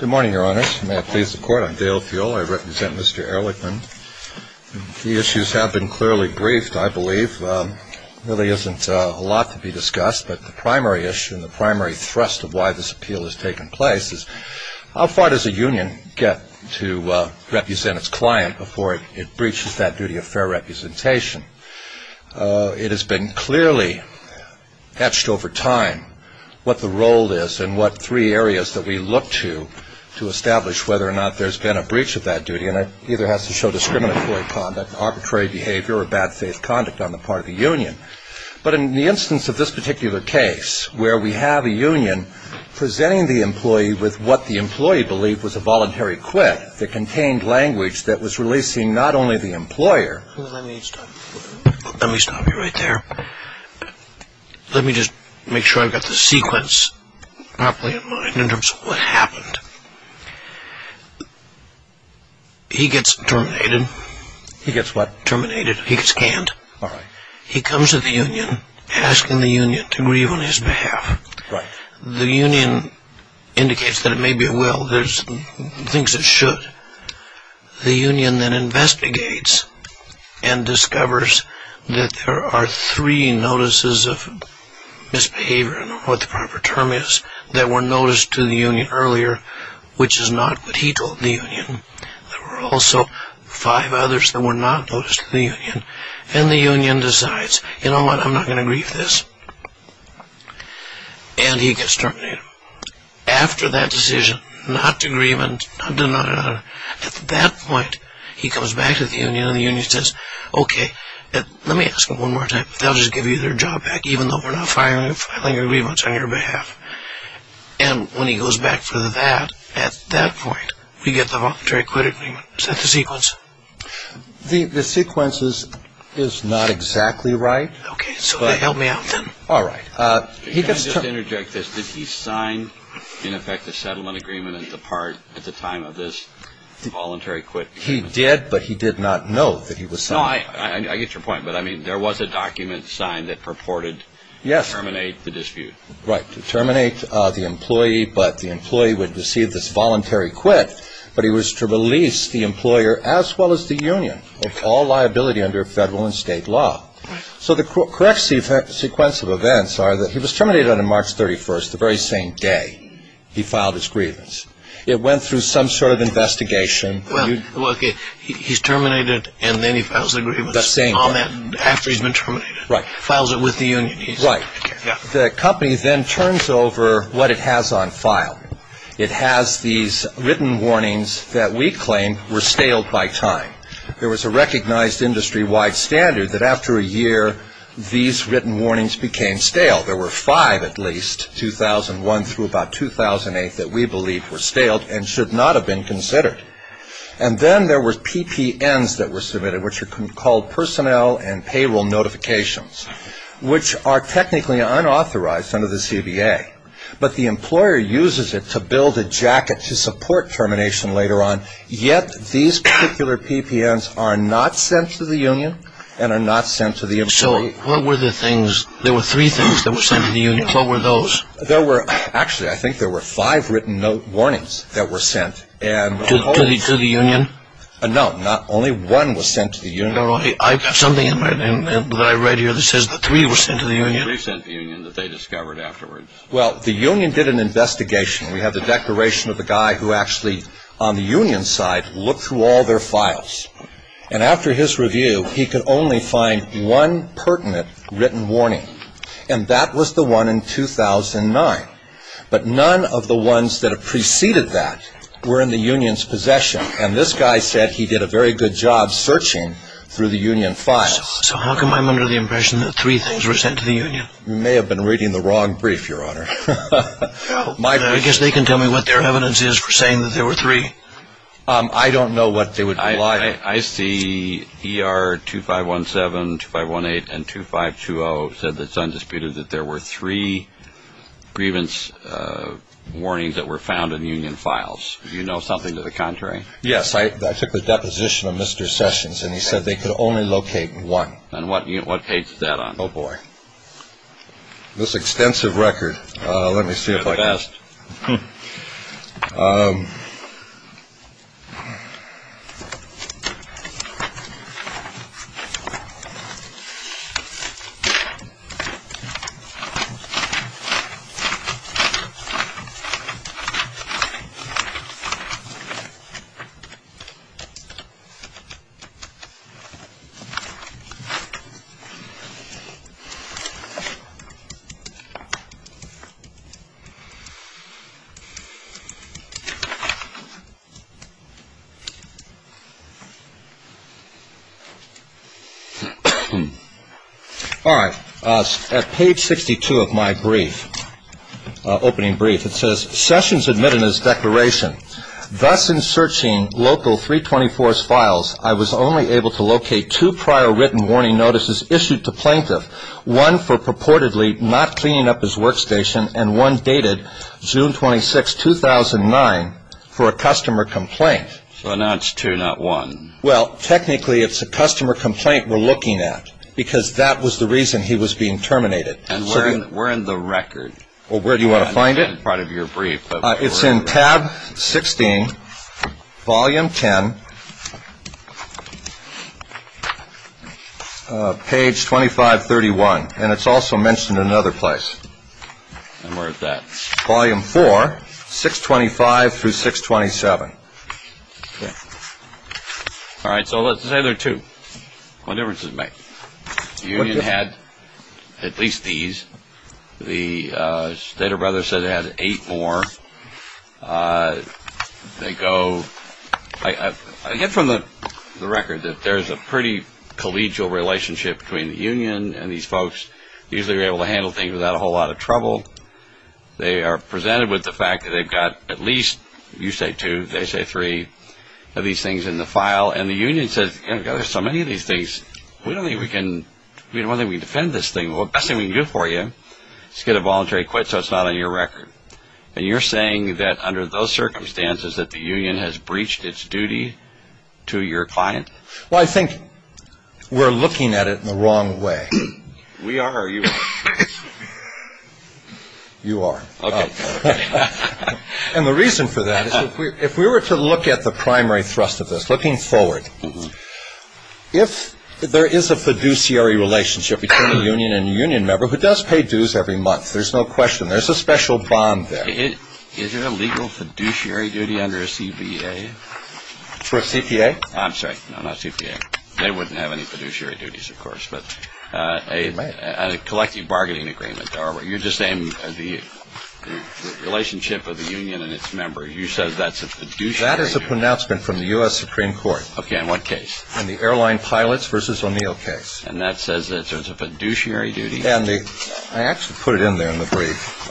Good morning, Your Honors. May I please the Court? I'm Dale Fuel. I represent Mr. Erlichman. The issues have been clearly briefed, I believe. There really isn't a lot to be discussed, but the primary issue and the primary thrust of why this appeal has taken place is how far does a union get to represent its client before it breaches that duty of fair representation? It has been clearly etched over time what the role is and what three areas that we look to, to establish whether or not there's been a breach of that duty, and it either has to show discriminatory conduct, arbitrary behavior, or bad faith conduct on the part of the union. But in the instance of this particular case, where we have a union presenting the employee with what the employee believed was a voluntary quit that contained language that was releasing not only the employer... Let me stop you right there. Let me just make sure I've got the sequence properly in mind in terms of what happened. He gets terminated. He gets what? Terminated. He gets canned. He comes to the union, asking the union to grieve on his behalf. The union indicates that it may be at will. It thinks it should. The union then investigates and discovers that there are three notices of misbehavior and I don't know what the proper term is, that were noticed to the union earlier, which is not what he told the union. There were also five others that were not noticed to the union. And the union decides, you know what, I'm not going to grieve this. And he gets terminated. After that decision, not to grieve and... At that point, he comes back to the union and the union says, okay, let me ask them one more time. If they'll just give you their job back, even though we're not filing a grievance on your behalf. And when he goes back for that, at that point, we get the voluntary quit agreement. Is that the sequence? The sequence is not exactly right. Okay, so help me out then. All right. Can I just interject this? Did he sign, in effect, the settlement agreement at the time of this voluntary quit? He did, but he did not know that he was signing it. No, I get your point. But, I mean, there was a document signed that purported to terminate the dispute. Yes. Right. To terminate the employee, but the employee would receive this voluntary quit, but he was to release the employer as well as the union of all liability under federal and state law. So the correct sequence of events are that he was terminated on March 31st, the very same day he filed his grievance. It went through some sort of investigation. Well, okay, he's terminated, and then he files the grievance on that after he's been terminated. Right. Files it with the union. Right. The company then turns over what it has on file. It has these written warnings that we claim were staled by time. There was a recognized industry-wide standard that after a year, these written warnings became stale. There were five, at least, 2001 through about 2008, that we believe were staled and should not have been considered. And then there were PPNs that were submitted, which are called personnel and payroll notifications, which are technically unauthorized under the CBA. But the employer uses it to build a jacket to support termination later on, yet these particular PPNs are not sent to the union and are not sent to the employee. So what were the things? There were three things that were sent to the union. What were those? There were, actually, I think there were five written note warnings that were sent. To the union? No, not only one was sent to the union. I have something in my name that I read here that says that three were sent to the union. Three sent to the union that they discovered afterwards. Well, the union did an investigation. We have the declaration of the guy who actually, on the union side, looked through all their files. And after his review, he could only find one in 2009. But none of the ones that have preceded that were in the union's possession. And this guy said he did a very good job searching through the union files. So how come I'm under the impression that three things were sent to the union? You may have been reading the wrong brief, Your Honor. I guess they can tell me what their evidence is for saying that there were three. I don't know what they would imply. I see ER 2517, 2518, and 2520 said that it's undisputed that there were three grievance warnings that were found in union files. Do you know something to the contrary? Yes. I took a deposition of Mr. Sessions, and he said they could only locate one. And what page is that on? Oh, boy. This extensive record. All right. At page 62 of my brief, opening brief, it says, Sessions admitted his declaration. Thus, in searching local 324's files, I was only able to locate two prior written warning notices issued to plaintiff, one for purportedly not cleaning up his workstation, and one dated June 26, 2009, for a customer complaint. So now it's two, not one. Well, technically, it's a customer complaint we're looking at, because that was the reason he was being terminated. And where in the record? Well, where do you want to find it? It's in tab 16, volume 10, page 2531. And it's also mentioned in another place. And where is that? Volume 4, 625 through 627. Okay. All right. So let's say there are two. What difference does it make? What difference? They had at least these. The Stader brothers said they had eight more. They go, I get from the record that there's a pretty collegial relationship between the union and these folks. Usually they're able to handle things without a whole lot of trouble. They are presented with the fact that they've got at least, you say two, they say three, of these things in the file. And the union says, God, there's so many of these things. We don't think we can defend this thing. Well, the best thing we can do for you is get a voluntary quit so it's not on your record. And you're saying that under those circumstances that the union has breached its duty to your client? Well, I think we're looking at it in the wrong way. We are or you are? You are. Okay. And the reason for that is if we were to look at the primary thrust of this, looking forward, if there is a fiduciary relationship between a union and a union member who does pay dues every month, there's no question there's a special bond there. Is there a legal fiduciary duty under a CBA? For a CPA? I'm sorry, no, not CPA. They wouldn't have any fiduciary duties, of course, but a collective bargaining agreement. You're just saying the relationship of the union and its members. You said that's a fiduciary duty. That is a pronouncement from the U.S. Supreme Court. Okay, in what case? In the airline pilots versus O'Neill case. And that says it's a fiduciary duty? I actually put it in there in the brief.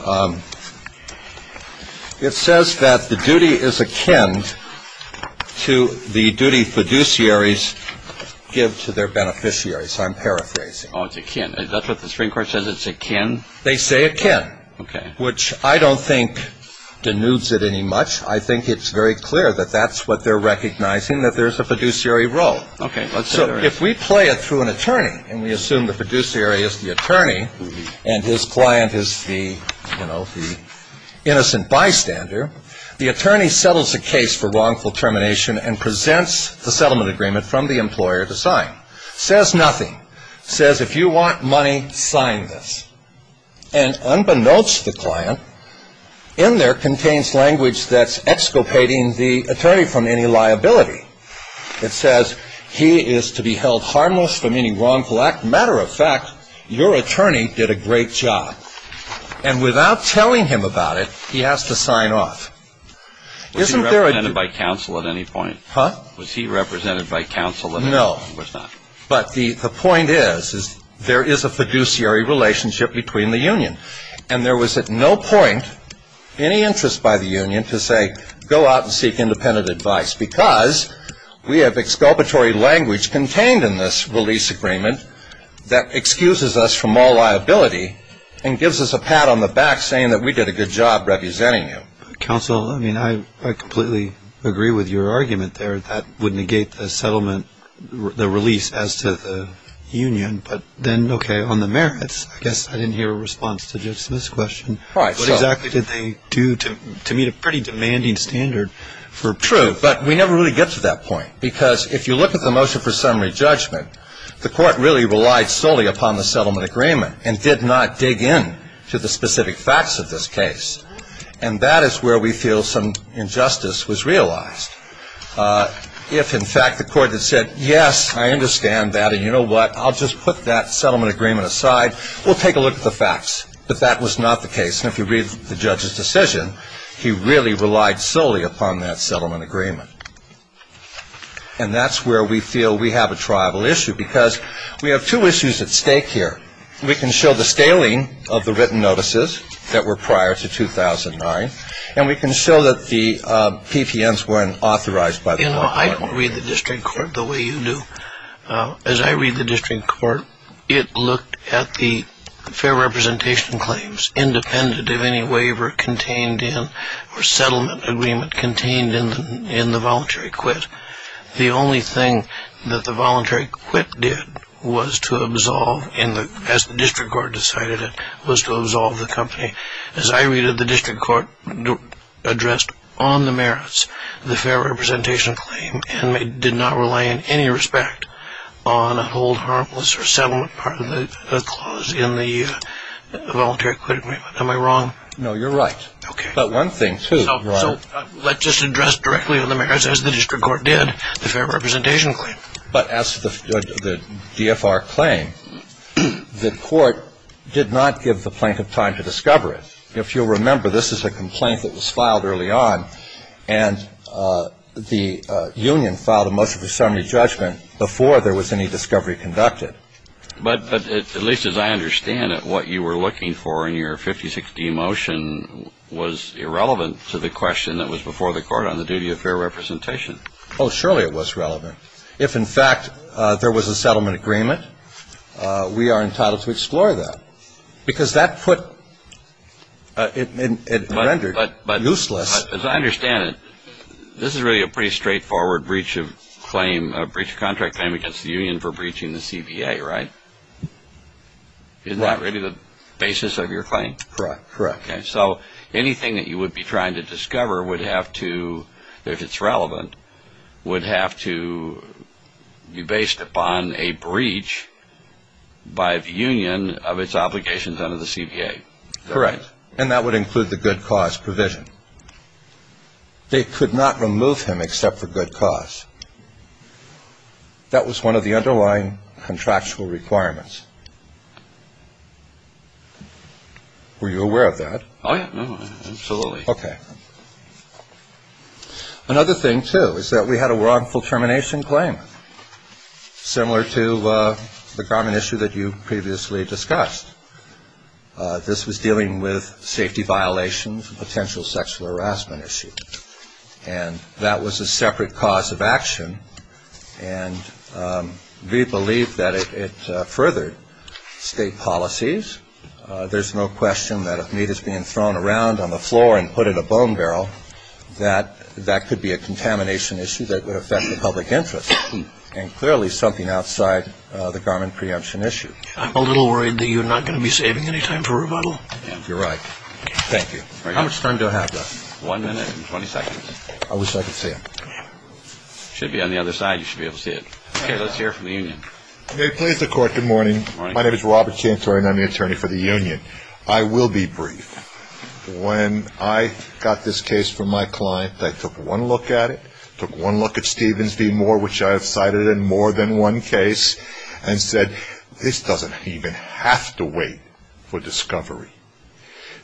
It says that the duty is akin to the duty fiduciaries give to their beneficiaries. I'm paraphrasing. Oh, it's akin. Is that what the Supreme Court says, it's akin? They say akin. Okay. Which I don't think denudes it any much. I think it's very clear that that's what they're recognizing, that there's a fiduciary role. Okay. So if we play it through an attorney, and we assume the fiduciary is the attorney and his client is the, you know, the innocent bystander, the attorney settles the case for wrongful termination and presents the settlement agreement from the employer to sign. Says nothing. Says if you want money, sign this. And unbeknownst to the client, in there contains language that's exculpating the attorney from any liability. It says he is to be held harmless from any wrongful act. Matter of fact, your attorney did a great job. And without telling him about it, he has to sign off. Isn't there a duty? Was he represented by counsel at any point? Huh? Was he represented by counsel at any point? No. No, of course not. But the point is, is there is a fiduciary relationship between the union. And there was at no point any interest by the union to say go out and seek independent advice because we have exculpatory language contained in this release agreement that excuses us from all liability and gives us a pat on the back saying that we did a good job representing you. Counsel, I mean, I completely agree with your argument there. That would negate the settlement, the release as to the union. But then, okay, on the merits, I guess I didn't hear a response to Judge Smith's question. What exactly did they do to meet a pretty demanding standard for proof? True, but we never really get to that point because if you look at the motion for summary judgment, the court really relied solely upon the settlement agreement and did not dig in to the specific facts of this case. And that is where we feel some injustice was realized. If, in fact, the court had said, yes, I understand that, and you know what, I'll just put that settlement agreement aside, we'll take a look at the facts. But that was not the case. And if you read the judge's decision, he really relied solely upon that settlement agreement. And that's where we feel we have a triable issue because we have two issues at stake here. We can show the scaling of the written notices that were prior to 2009, and we can show that the PPNs weren't authorized by the court. You know, I don't read the district court the way you do. As I read the district court, it looked at the fair representation claims independent of any waiver contained in or settlement agreement contained in the voluntary quit. The only thing that the voluntary quit did was to absolve, as the district court decided it, was to absolve the company. As I read it, the district court addressed on the merits the fair representation claim and did not rely in any respect on a hold harmless or settlement part of the clause in the voluntary quit agreement. Am I wrong? No, you're right. Okay. But one thing, too. So let's just address directly on the merits, as the district court did, the fair representation claim. But as the DFR claimed, the court did not give the plaintiff time to discover it. If you'll remember, this is a complaint that was filed early on, and the union filed a motion for summary judgment before there was any discovery conducted. But at least as I understand it, what you were looking for in your 50-60 motion was irrelevant to the question that was before the court on the duty of fair representation. Oh, surely it was relevant. If, in fact, there was a settlement agreement, we are entitled to explore that. Because that put it rendered useless. But as I understand it, this is really a pretty straightforward breach of claim, breach of contract claim against the union for breaching the CBA, right? Isn't that really the basis of your claim? Correct. So anything that you would be trying to discover would have to, if it's relevant, would have to be based upon a breach by the union of its obligations under the CBA. Correct. And that would include the good cause provision. They could not remove him except for good cause. That was one of the underlying contractual requirements. Were you aware of that? Oh, yeah. Absolutely. Okay. Another thing, too, is that we had a wrongful termination claim, similar to the common issue that you previously discussed. This was dealing with safety violations and potential sexual harassment issues. And that was a separate cause of action. And we believe that it furthered state policies. There's no question that if meat is being thrown around on the floor and put in a bone barrel, that that could be a contamination issue that would affect the public interest, and clearly something outside the garment preemption issue. I'm a little worried that you're not going to be saving any time for rebuttal. You're right. Thank you. How much time do I have left? One minute and 20 seconds. I wish I could see it. It should be on the other side. You should be able to see it. Okay. Let's hear from the union. May it please the Court, good morning. Good morning. My name is Robert Cantori, and I'm the attorney for the union. I will be brief. When I got this case from my client, I took one look at it, took one look at Stevens v. Moore, which I have cited in more than one case, and said, this doesn't even have to wait for discovery.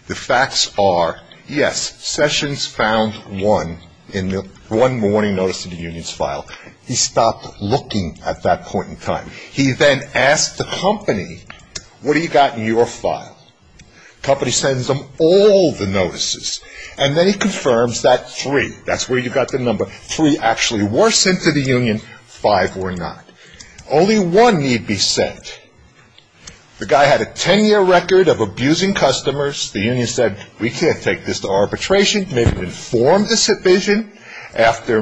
The facts are, yes, Sessions found one in the one morning notice in the union's file. He stopped looking at that point in time. He then asked the company, what do you got in your file? The company sends him all the notices, and then he confirms that three, that's where you got the number, three actually were sent to the union, five were not. Only one need be said. The guy had a 10-year record of abusing customers. The union said, we can't take this to arbitration. They informed the division after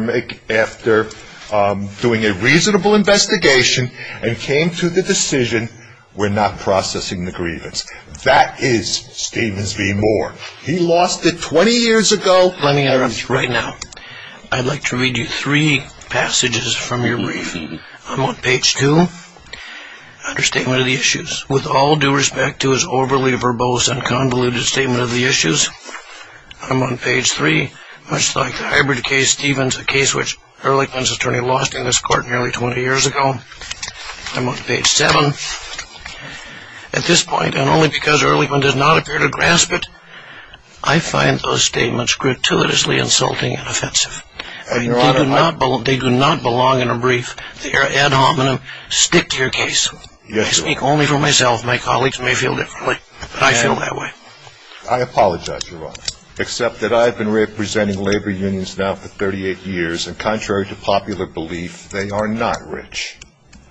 doing a reasonable investigation and came to the decision we're not processing the grievance. That is Stevens v. Moore. He lost it 20 years ago. Let me interrupt you right now. I'd like to read you three passages from your briefing. I'm on page two. Understatement of the issues. With all due respect to his overly verbose and convoluted statement of the issues, I'm on page three. Much like the hybrid case, Stevens, a case which Ehrlichman's attorney lost in this court nearly 20 years ago. I'm on page seven. At this point, and only because Ehrlichman does not appear to grasp it, I find those statements gratuitously insulting and offensive. They do not belong in a brief. They are ad hominem. Stick to your case. I speak only for myself. My colleagues may feel differently, but I feel that way. I apologize, Your Honor, except that I have been representing labor unions now for 38 years, and contrary to popular belief, they are not rich.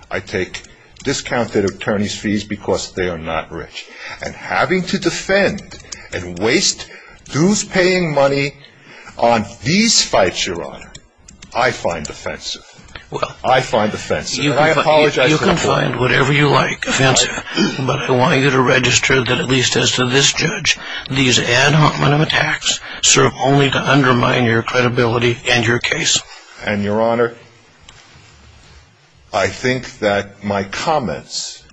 I take discounted attorney's fees because they are not rich. And having to defend and waste dues-paying money on these fights, Your Honor, I find offensive. I find offensive. I apologize. You can find whatever you like offensive, but I want you to register that at least as to this judge, these ad hominem attacks serve only to undermine your credibility and your case. And, Your Honor, I think that my comments,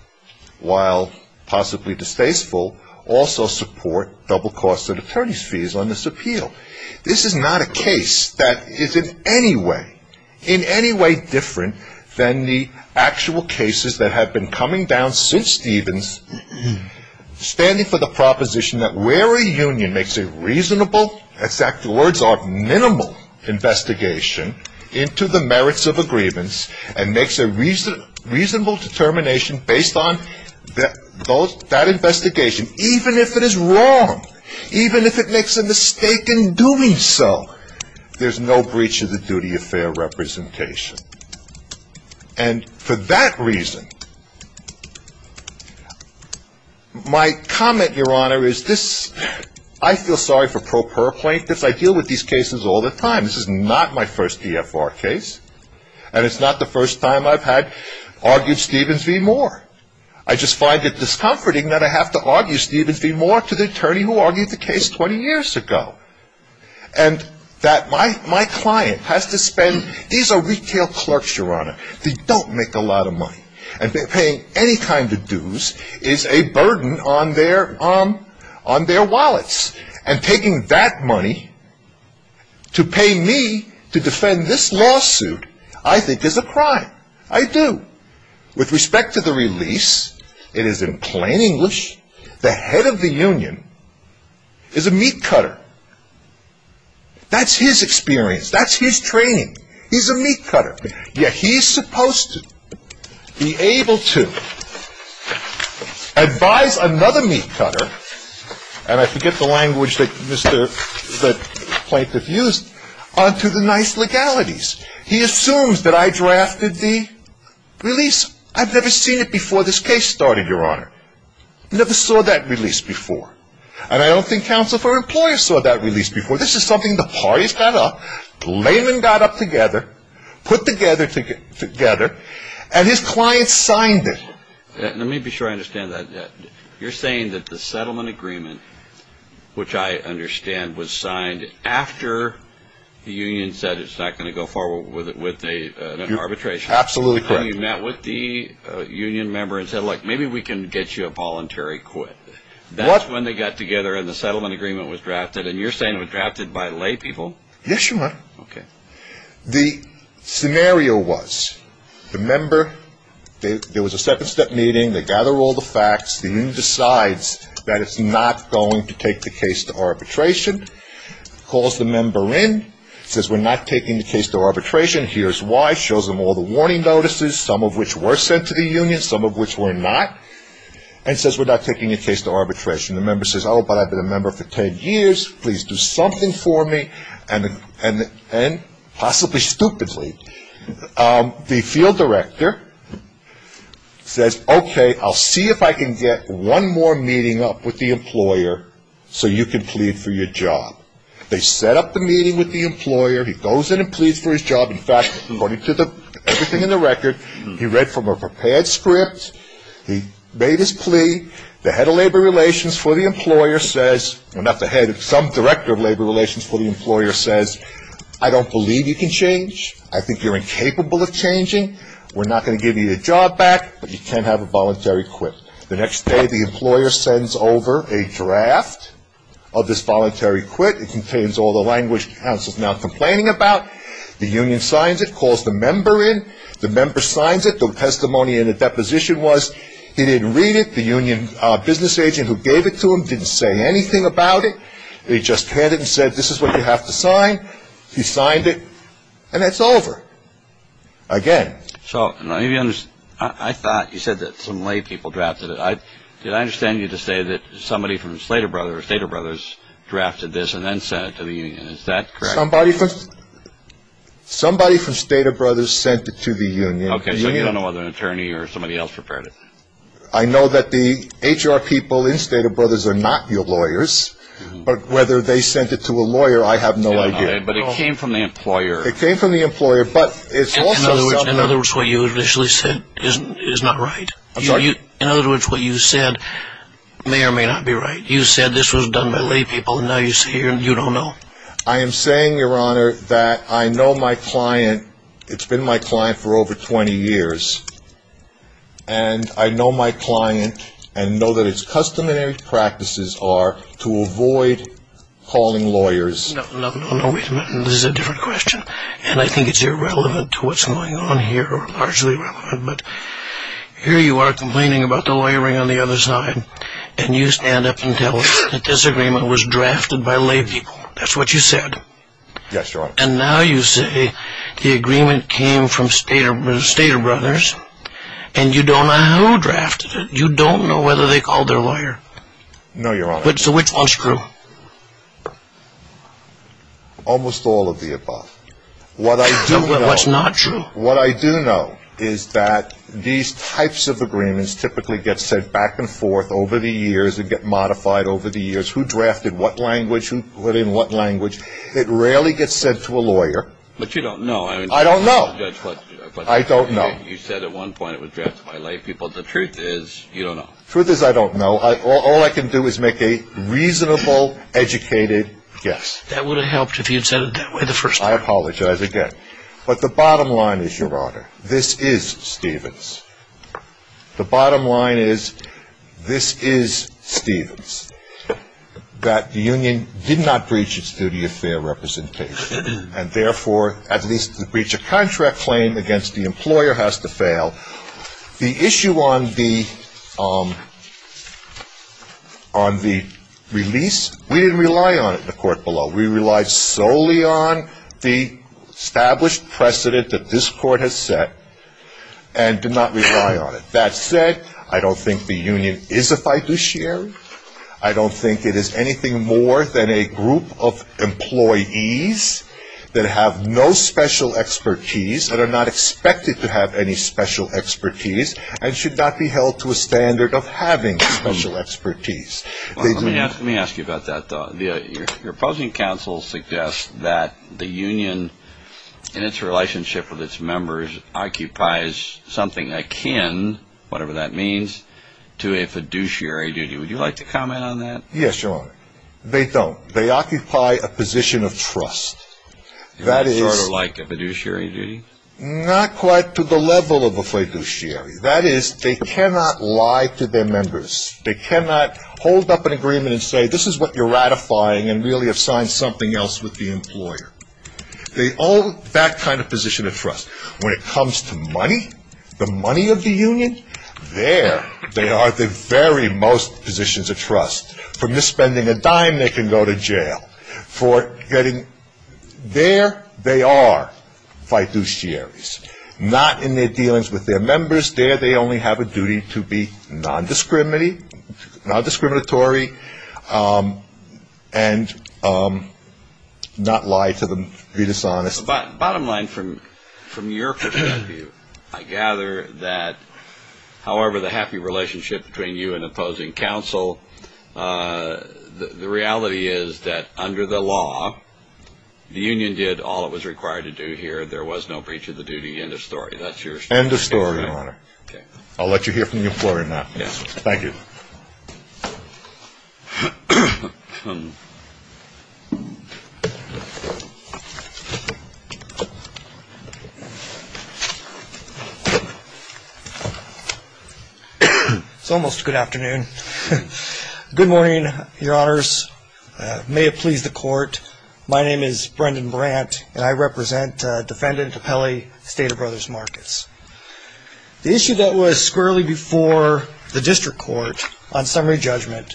while possibly distasteful, also support double costs of attorney's fees on this appeal. This is not a case that is in any way, in any way different than the actual cases that have been coming down since Stevens, standing for the proposition that where a union makes a reasonable, exact words are minimal, investigation into the merits of agreements and makes a reasonable determination based on that investigation, even if it is wrong, even if it makes a mistake in doing so, there's no breach of the duty of fair representation. And for that reason, my comment, Your Honor, is this. I feel sorry for pro per plaintiffs. I deal with these cases all the time. This is not my first EFR case, and it's not the first time I've had argued Stevens v. Moore. I just find it discomforting that I have to argue Stevens v. Moore to the attorney who argued the case 20 years ago. And that my client has to spend, these are retail clerks, Your Honor, they don't make a lot of money. And paying any kind of dues is a burden on their wallets. And taking that money to pay me to defend this lawsuit I think is a crime. I do. With respect to the release, it is in plain English, the head of the union is a meat cutter. That's his experience. That's his training. He's a meat cutter. Yet he's supposed to be able to advise another meat cutter, and I forget the language that Mr. Plaintiff used, onto the nice legalities. He assumes that I drafted the release. I've never seen it before this case started, Your Honor. Never saw that release before. And I don't think counsel for employers saw that release before. This is something the parties got up, the layman got up together, put together, and his client signed it. Let me be sure I understand that. You're saying that the settlement agreement, which I understand was signed after the union said it's not going to go forward with an arbitration. Absolutely correct. And you met with the union member and said, look, maybe we can get you a voluntary quit. That's when they got together and the settlement agreement was drafted, and you're saying it was drafted by laypeople. Yes, Your Honor. Okay. The scenario was the member, there was a second step meeting, they gather all the facts, the union decides that it's not going to take the case to arbitration, calls the member in, says we're not taking the case to arbitration, hears why, shows them all the warning notices, some of which were sent to the union, some of which were not, and says we're not taking the case to arbitration. The member says, oh, but I've been a member for 10 years, please do something for me, and possibly stupidly, the field director says, okay, I'll see if I can get one more meeting up with the employer so you can plead for your job. They set up the meeting with the employer, he goes in and pleads for his job. In fact, according to everything in the record, he read from a prepared script, he made his plea, the head of labor relations for the employer says, well, not the head, some director of labor relations for the employer says, I don't believe you can change, I think you're incapable of changing, we're not going to give you your job back, but you can have a voluntary quit. The next day, the employer sends over a draft of this voluntary quit, it contains all the language the counsel is now complaining about, the union signs it, calls the member in, the member signs it, the testimony in the deposition was he didn't read it, the union business agent who gave it to him didn't say anything about it, he just handed it and said, this is what you have to sign, he signed it, and it's over. Again. So I thought you said that some lay people drafted it. Did I understand you to say that somebody from Slater Brothers, Slater Brothers drafted this and then sent it to the union, is that correct? Somebody from Slater Brothers sent it to the union. Okay, so you don't know whether an attorney or somebody else prepared it. I know that the HR people in Slater Brothers are not your lawyers, but whether they sent it to a lawyer, I have no idea. But it came from the employer. It came from the employer, but it's also something. In other words, what you initially said is not right. I'm sorry? In other words, what you said may or may not be right. You said this was done by lay people, and now you say you don't know. I am saying, Your Honor, that I know my client, it's been my client for over 20 years, and I know my client and know that its customary practices are to avoid calling lawyers. No, no, no, wait a minute. This is a different question, and I think it's irrelevant to what's going on here, or largely irrelevant, but here you are complaining about the lawyering on the other side, and you stand up and tell us that this agreement was drafted by lay people. That's what you said. Yes, Your Honor. And now you say the agreement came from Stater Brothers, and you don't know who drafted it. You don't know whether they called their lawyer. No, Your Honor. So which one's true? Almost all of the above. What I do know. What's not true? What I do know is that these types of agreements typically get sent back and forth over the years and get modified over the years. Who drafted what language? Who put in what language? It rarely gets sent to a lawyer. But you don't know. I don't know. I don't know. You said at one point it was drafted by lay people. The truth is you don't know. The truth is I don't know. All I can do is make a reasonable, educated guess. That would have helped if you had said it that way the first time. I apologize again. But the bottom line is, Your Honor, this is Stevens. The bottom line is this is Stevens, that the union did not breach its duty of fair representation, and, therefore, at least the breach of contract claim against the employer has to fail. The issue on the release, we didn't rely on it in the court below. We relied solely on the established precedent that this court has set and did not rely on it. That said, I don't think the union is a fiduciary. I don't think it is anything more than a group of employees that have no special expertise that are not expected to have any special expertise and should not be held to a standard of having special expertise. Let me ask you about that. Your opposing counsel suggests that the union, in its relationship with its members, occupies something akin, whatever that means, to a fiduciary duty. Would you like to comment on that? Yes, Your Honor. They don't. They occupy a position of trust. Sort of like a fiduciary duty? Not quite to the level of a fiduciary. That is, they cannot lie to their members. They cannot hold up an agreement and say, this is what you're ratifying and really have signed something else with the employer. They own that kind of position of trust. When it comes to money, the money of the union, there they are the very most positions of trust. For misspending a dime, they can go to jail. For getting there, they are fiduciaries. Not in their dealings with their members. There they only have a duty to be nondiscriminatory and not lie to them, be dishonest. Bottom line, from your perspective, I gather that, however, the happy relationship between you and opposing counsel, the reality is that under the law, the union did all it was required to do here. There was no breach of the duty. End of story. That's your statement. End of story, Your Honor. Okay. I'll let you hear from the employer now. Yes. Thank you. Good morning, Your Honors. May it please the Court. My name is Brendan Brandt, and I represent Defendant Apelli, State of Brothers Markets. The issue that was squarely before the district court on summary judgment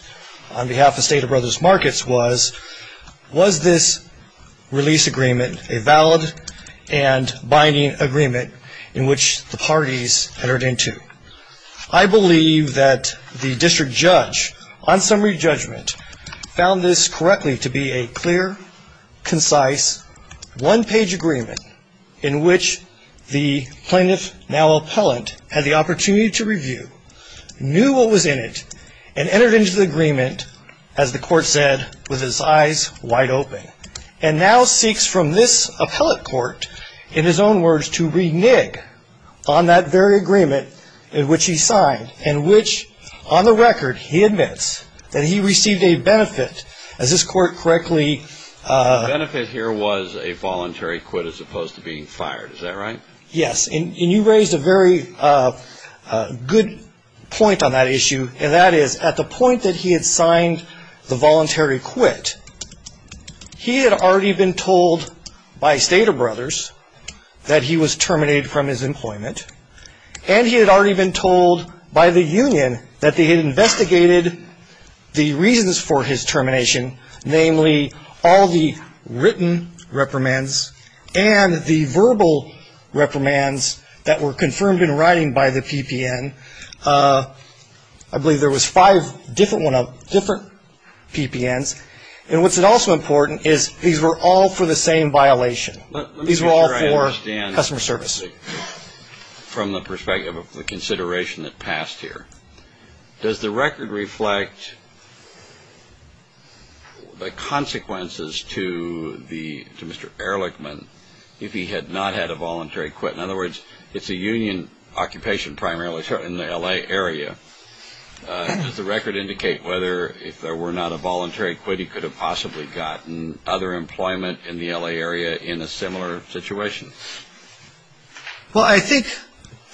on behalf of State of Brothers Markets was, was this release agreement a valid and binding agreement in which the parties entered into? I believe that the district judge on summary judgment found this correctly to be a clear, concise, one-page agreement in which the plaintiff, now appellant, had the opportunity to review, knew what was in it, and entered into the agreement, as the court said, with his eyes wide open, and now seeks from this appellate court, in his own words, to renege on that very agreement in which he signed, in which, on the record, he admits that he received a benefit, as this court correctly. The benefit here was a voluntary quit as opposed to being fired. Is that right? Yes. And you raised a very good point on that issue, and that is, at the point that he had signed the voluntary quit, he had already been told by State of Brothers that he was terminated from his employment, and he had already been told by the union that they had investigated the reasons for his termination, namely all the written reprimands and the verbal reprimands that were confirmed in writing by the PPN. I believe there was five different PPNs. And what's also important is these were all for the same violation. These were all for customer service. Let me make sure I understand from the perspective of the consideration that passed here. Does the record reflect the consequences to Mr. Ehrlichman if he had not had a voluntary quit? In other words, it's a union occupation primarily in the L.A. area. Does the record indicate whether, if there were not a voluntary quit, he could have possibly gotten other employment in the L.A. area in a similar situation? Well, I think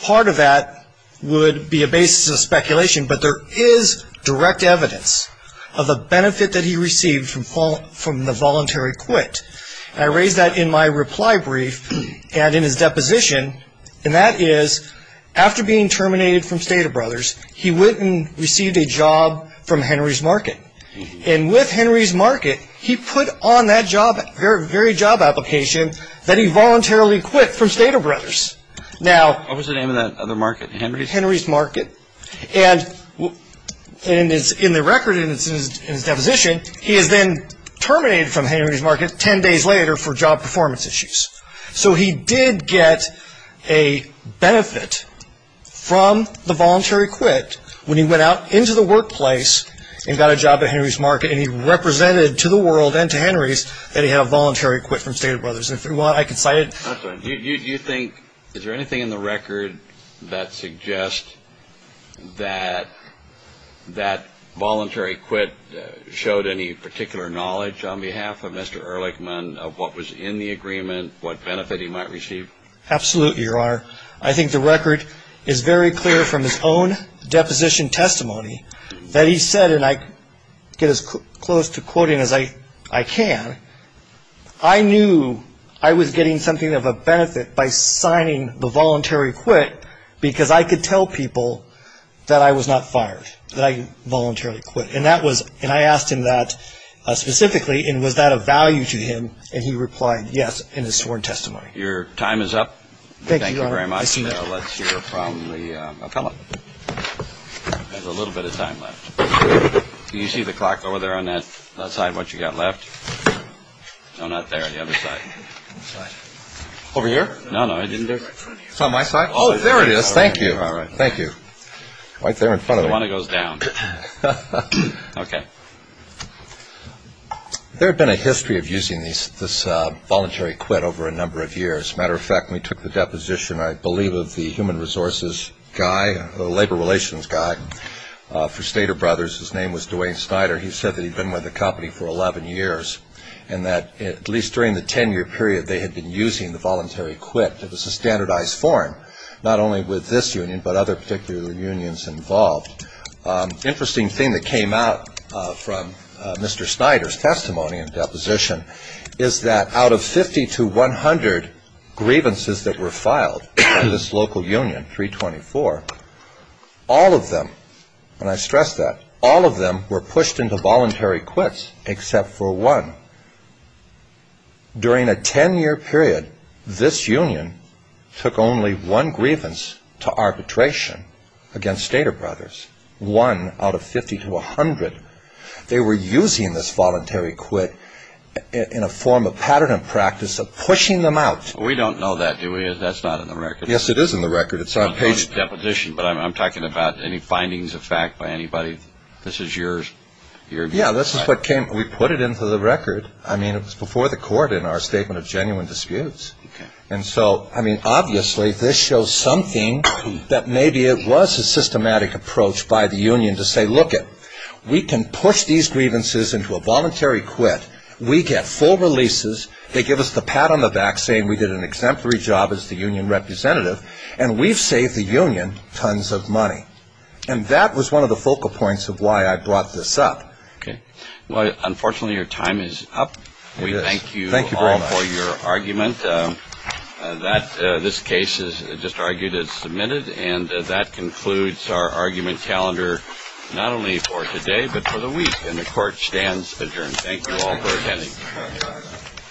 part of that would be a basis of speculation, but there is direct evidence of a benefit that he received from the voluntary quit. And I raise that in my reply brief and in his deposition, and that is after being terminated from Stater Brothers, he went and received a job from Henry's Market. And with Henry's Market, he put on that very job application that he voluntarily quit from Stater Brothers. What was the name of that other market, Henry's? Henry's Market. And in the record, in his deposition, he is then terminated from Henry's Market ten days later for job performance issues. So he did get a benefit from the voluntary quit when he went out into the workplace and got a job at Henry's Market, and he represented to the world and to Henry's that he had a voluntary quit from Stater Brothers. And if you want, I can cite it. You think, is there anything in the record that suggests that that voluntary quit showed any particular knowledge on behalf of Mr. Ehrlichman of what was in the agreement, what benefit he might receive? Absolutely, Your Honor. I think the record is very clear from his own deposition testimony that he said, and I get as close to quoting as I can, I knew I was getting something of a benefit by signing the voluntary quit because I could tell people that I was not fired, that I voluntarily quit. And I asked him that specifically, and was that of value to him? And he replied, yes, in his sworn testimony. Your time is up. Thank you, Your Honor. Thank you very much. Now let's hear from the appellate. There's a little bit of time left. Can you see the clock over there on that side, what you've got left? No, not there, the other side. Over here? No, no, it isn't there. It's on my side. Oh, there it is. Thank you. All right. Thank you. Right there in front of me. The one that goes down. Okay. There had been a history of using this voluntary quit over a number of years. As a matter of fact, we took the deposition, I believe, of the human resources guy, for Stater Brothers, his name was Dwayne Snyder. He said that he'd been with the company for 11 years, and that at least during the 10-year period they had been using the voluntary quit. It was a standardized form, not only with this union, but other particular unions involved. Interesting thing that came out from Mr. Snyder's testimony and deposition is that out of 50 to 100 grievances that were filed by this local union, 324, all of them, and I stress that, all of them were pushed into voluntary quits except for one. During a 10-year period, this union took only one grievance to arbitration against Stater Brothers, one out of 50 to 100. They were using this voluntary quit in a form of pattern and practice of pushing them out. We don't know that, do we? That's not in the record. Yes, it is in the record. It's on page... Deposition, but I'm talking about any findings of fact by anybody. This is yours. Yes, this is what came. We put it into the record. I mean, it was before the court in our statement of genuine disputes. And so, I mean, obviously this shows something that maybe it was a systematic approach by the union to say, look it, we can push these grievances into a voluntary quit. We get full releases. They give us the pat on the back saying we did an exemplary job as the union representative, and we've saved the union tons of money. And that was one of the focal points of why I brought this up. Okay. Well, unfortunately, your time is up. It is. Thank you very much. We thank you all for your argument. This case is just argued as submitted. And that concludes our argument calendar, not only for today but for the week. And the Court stands adjourned. Thank you all for attending.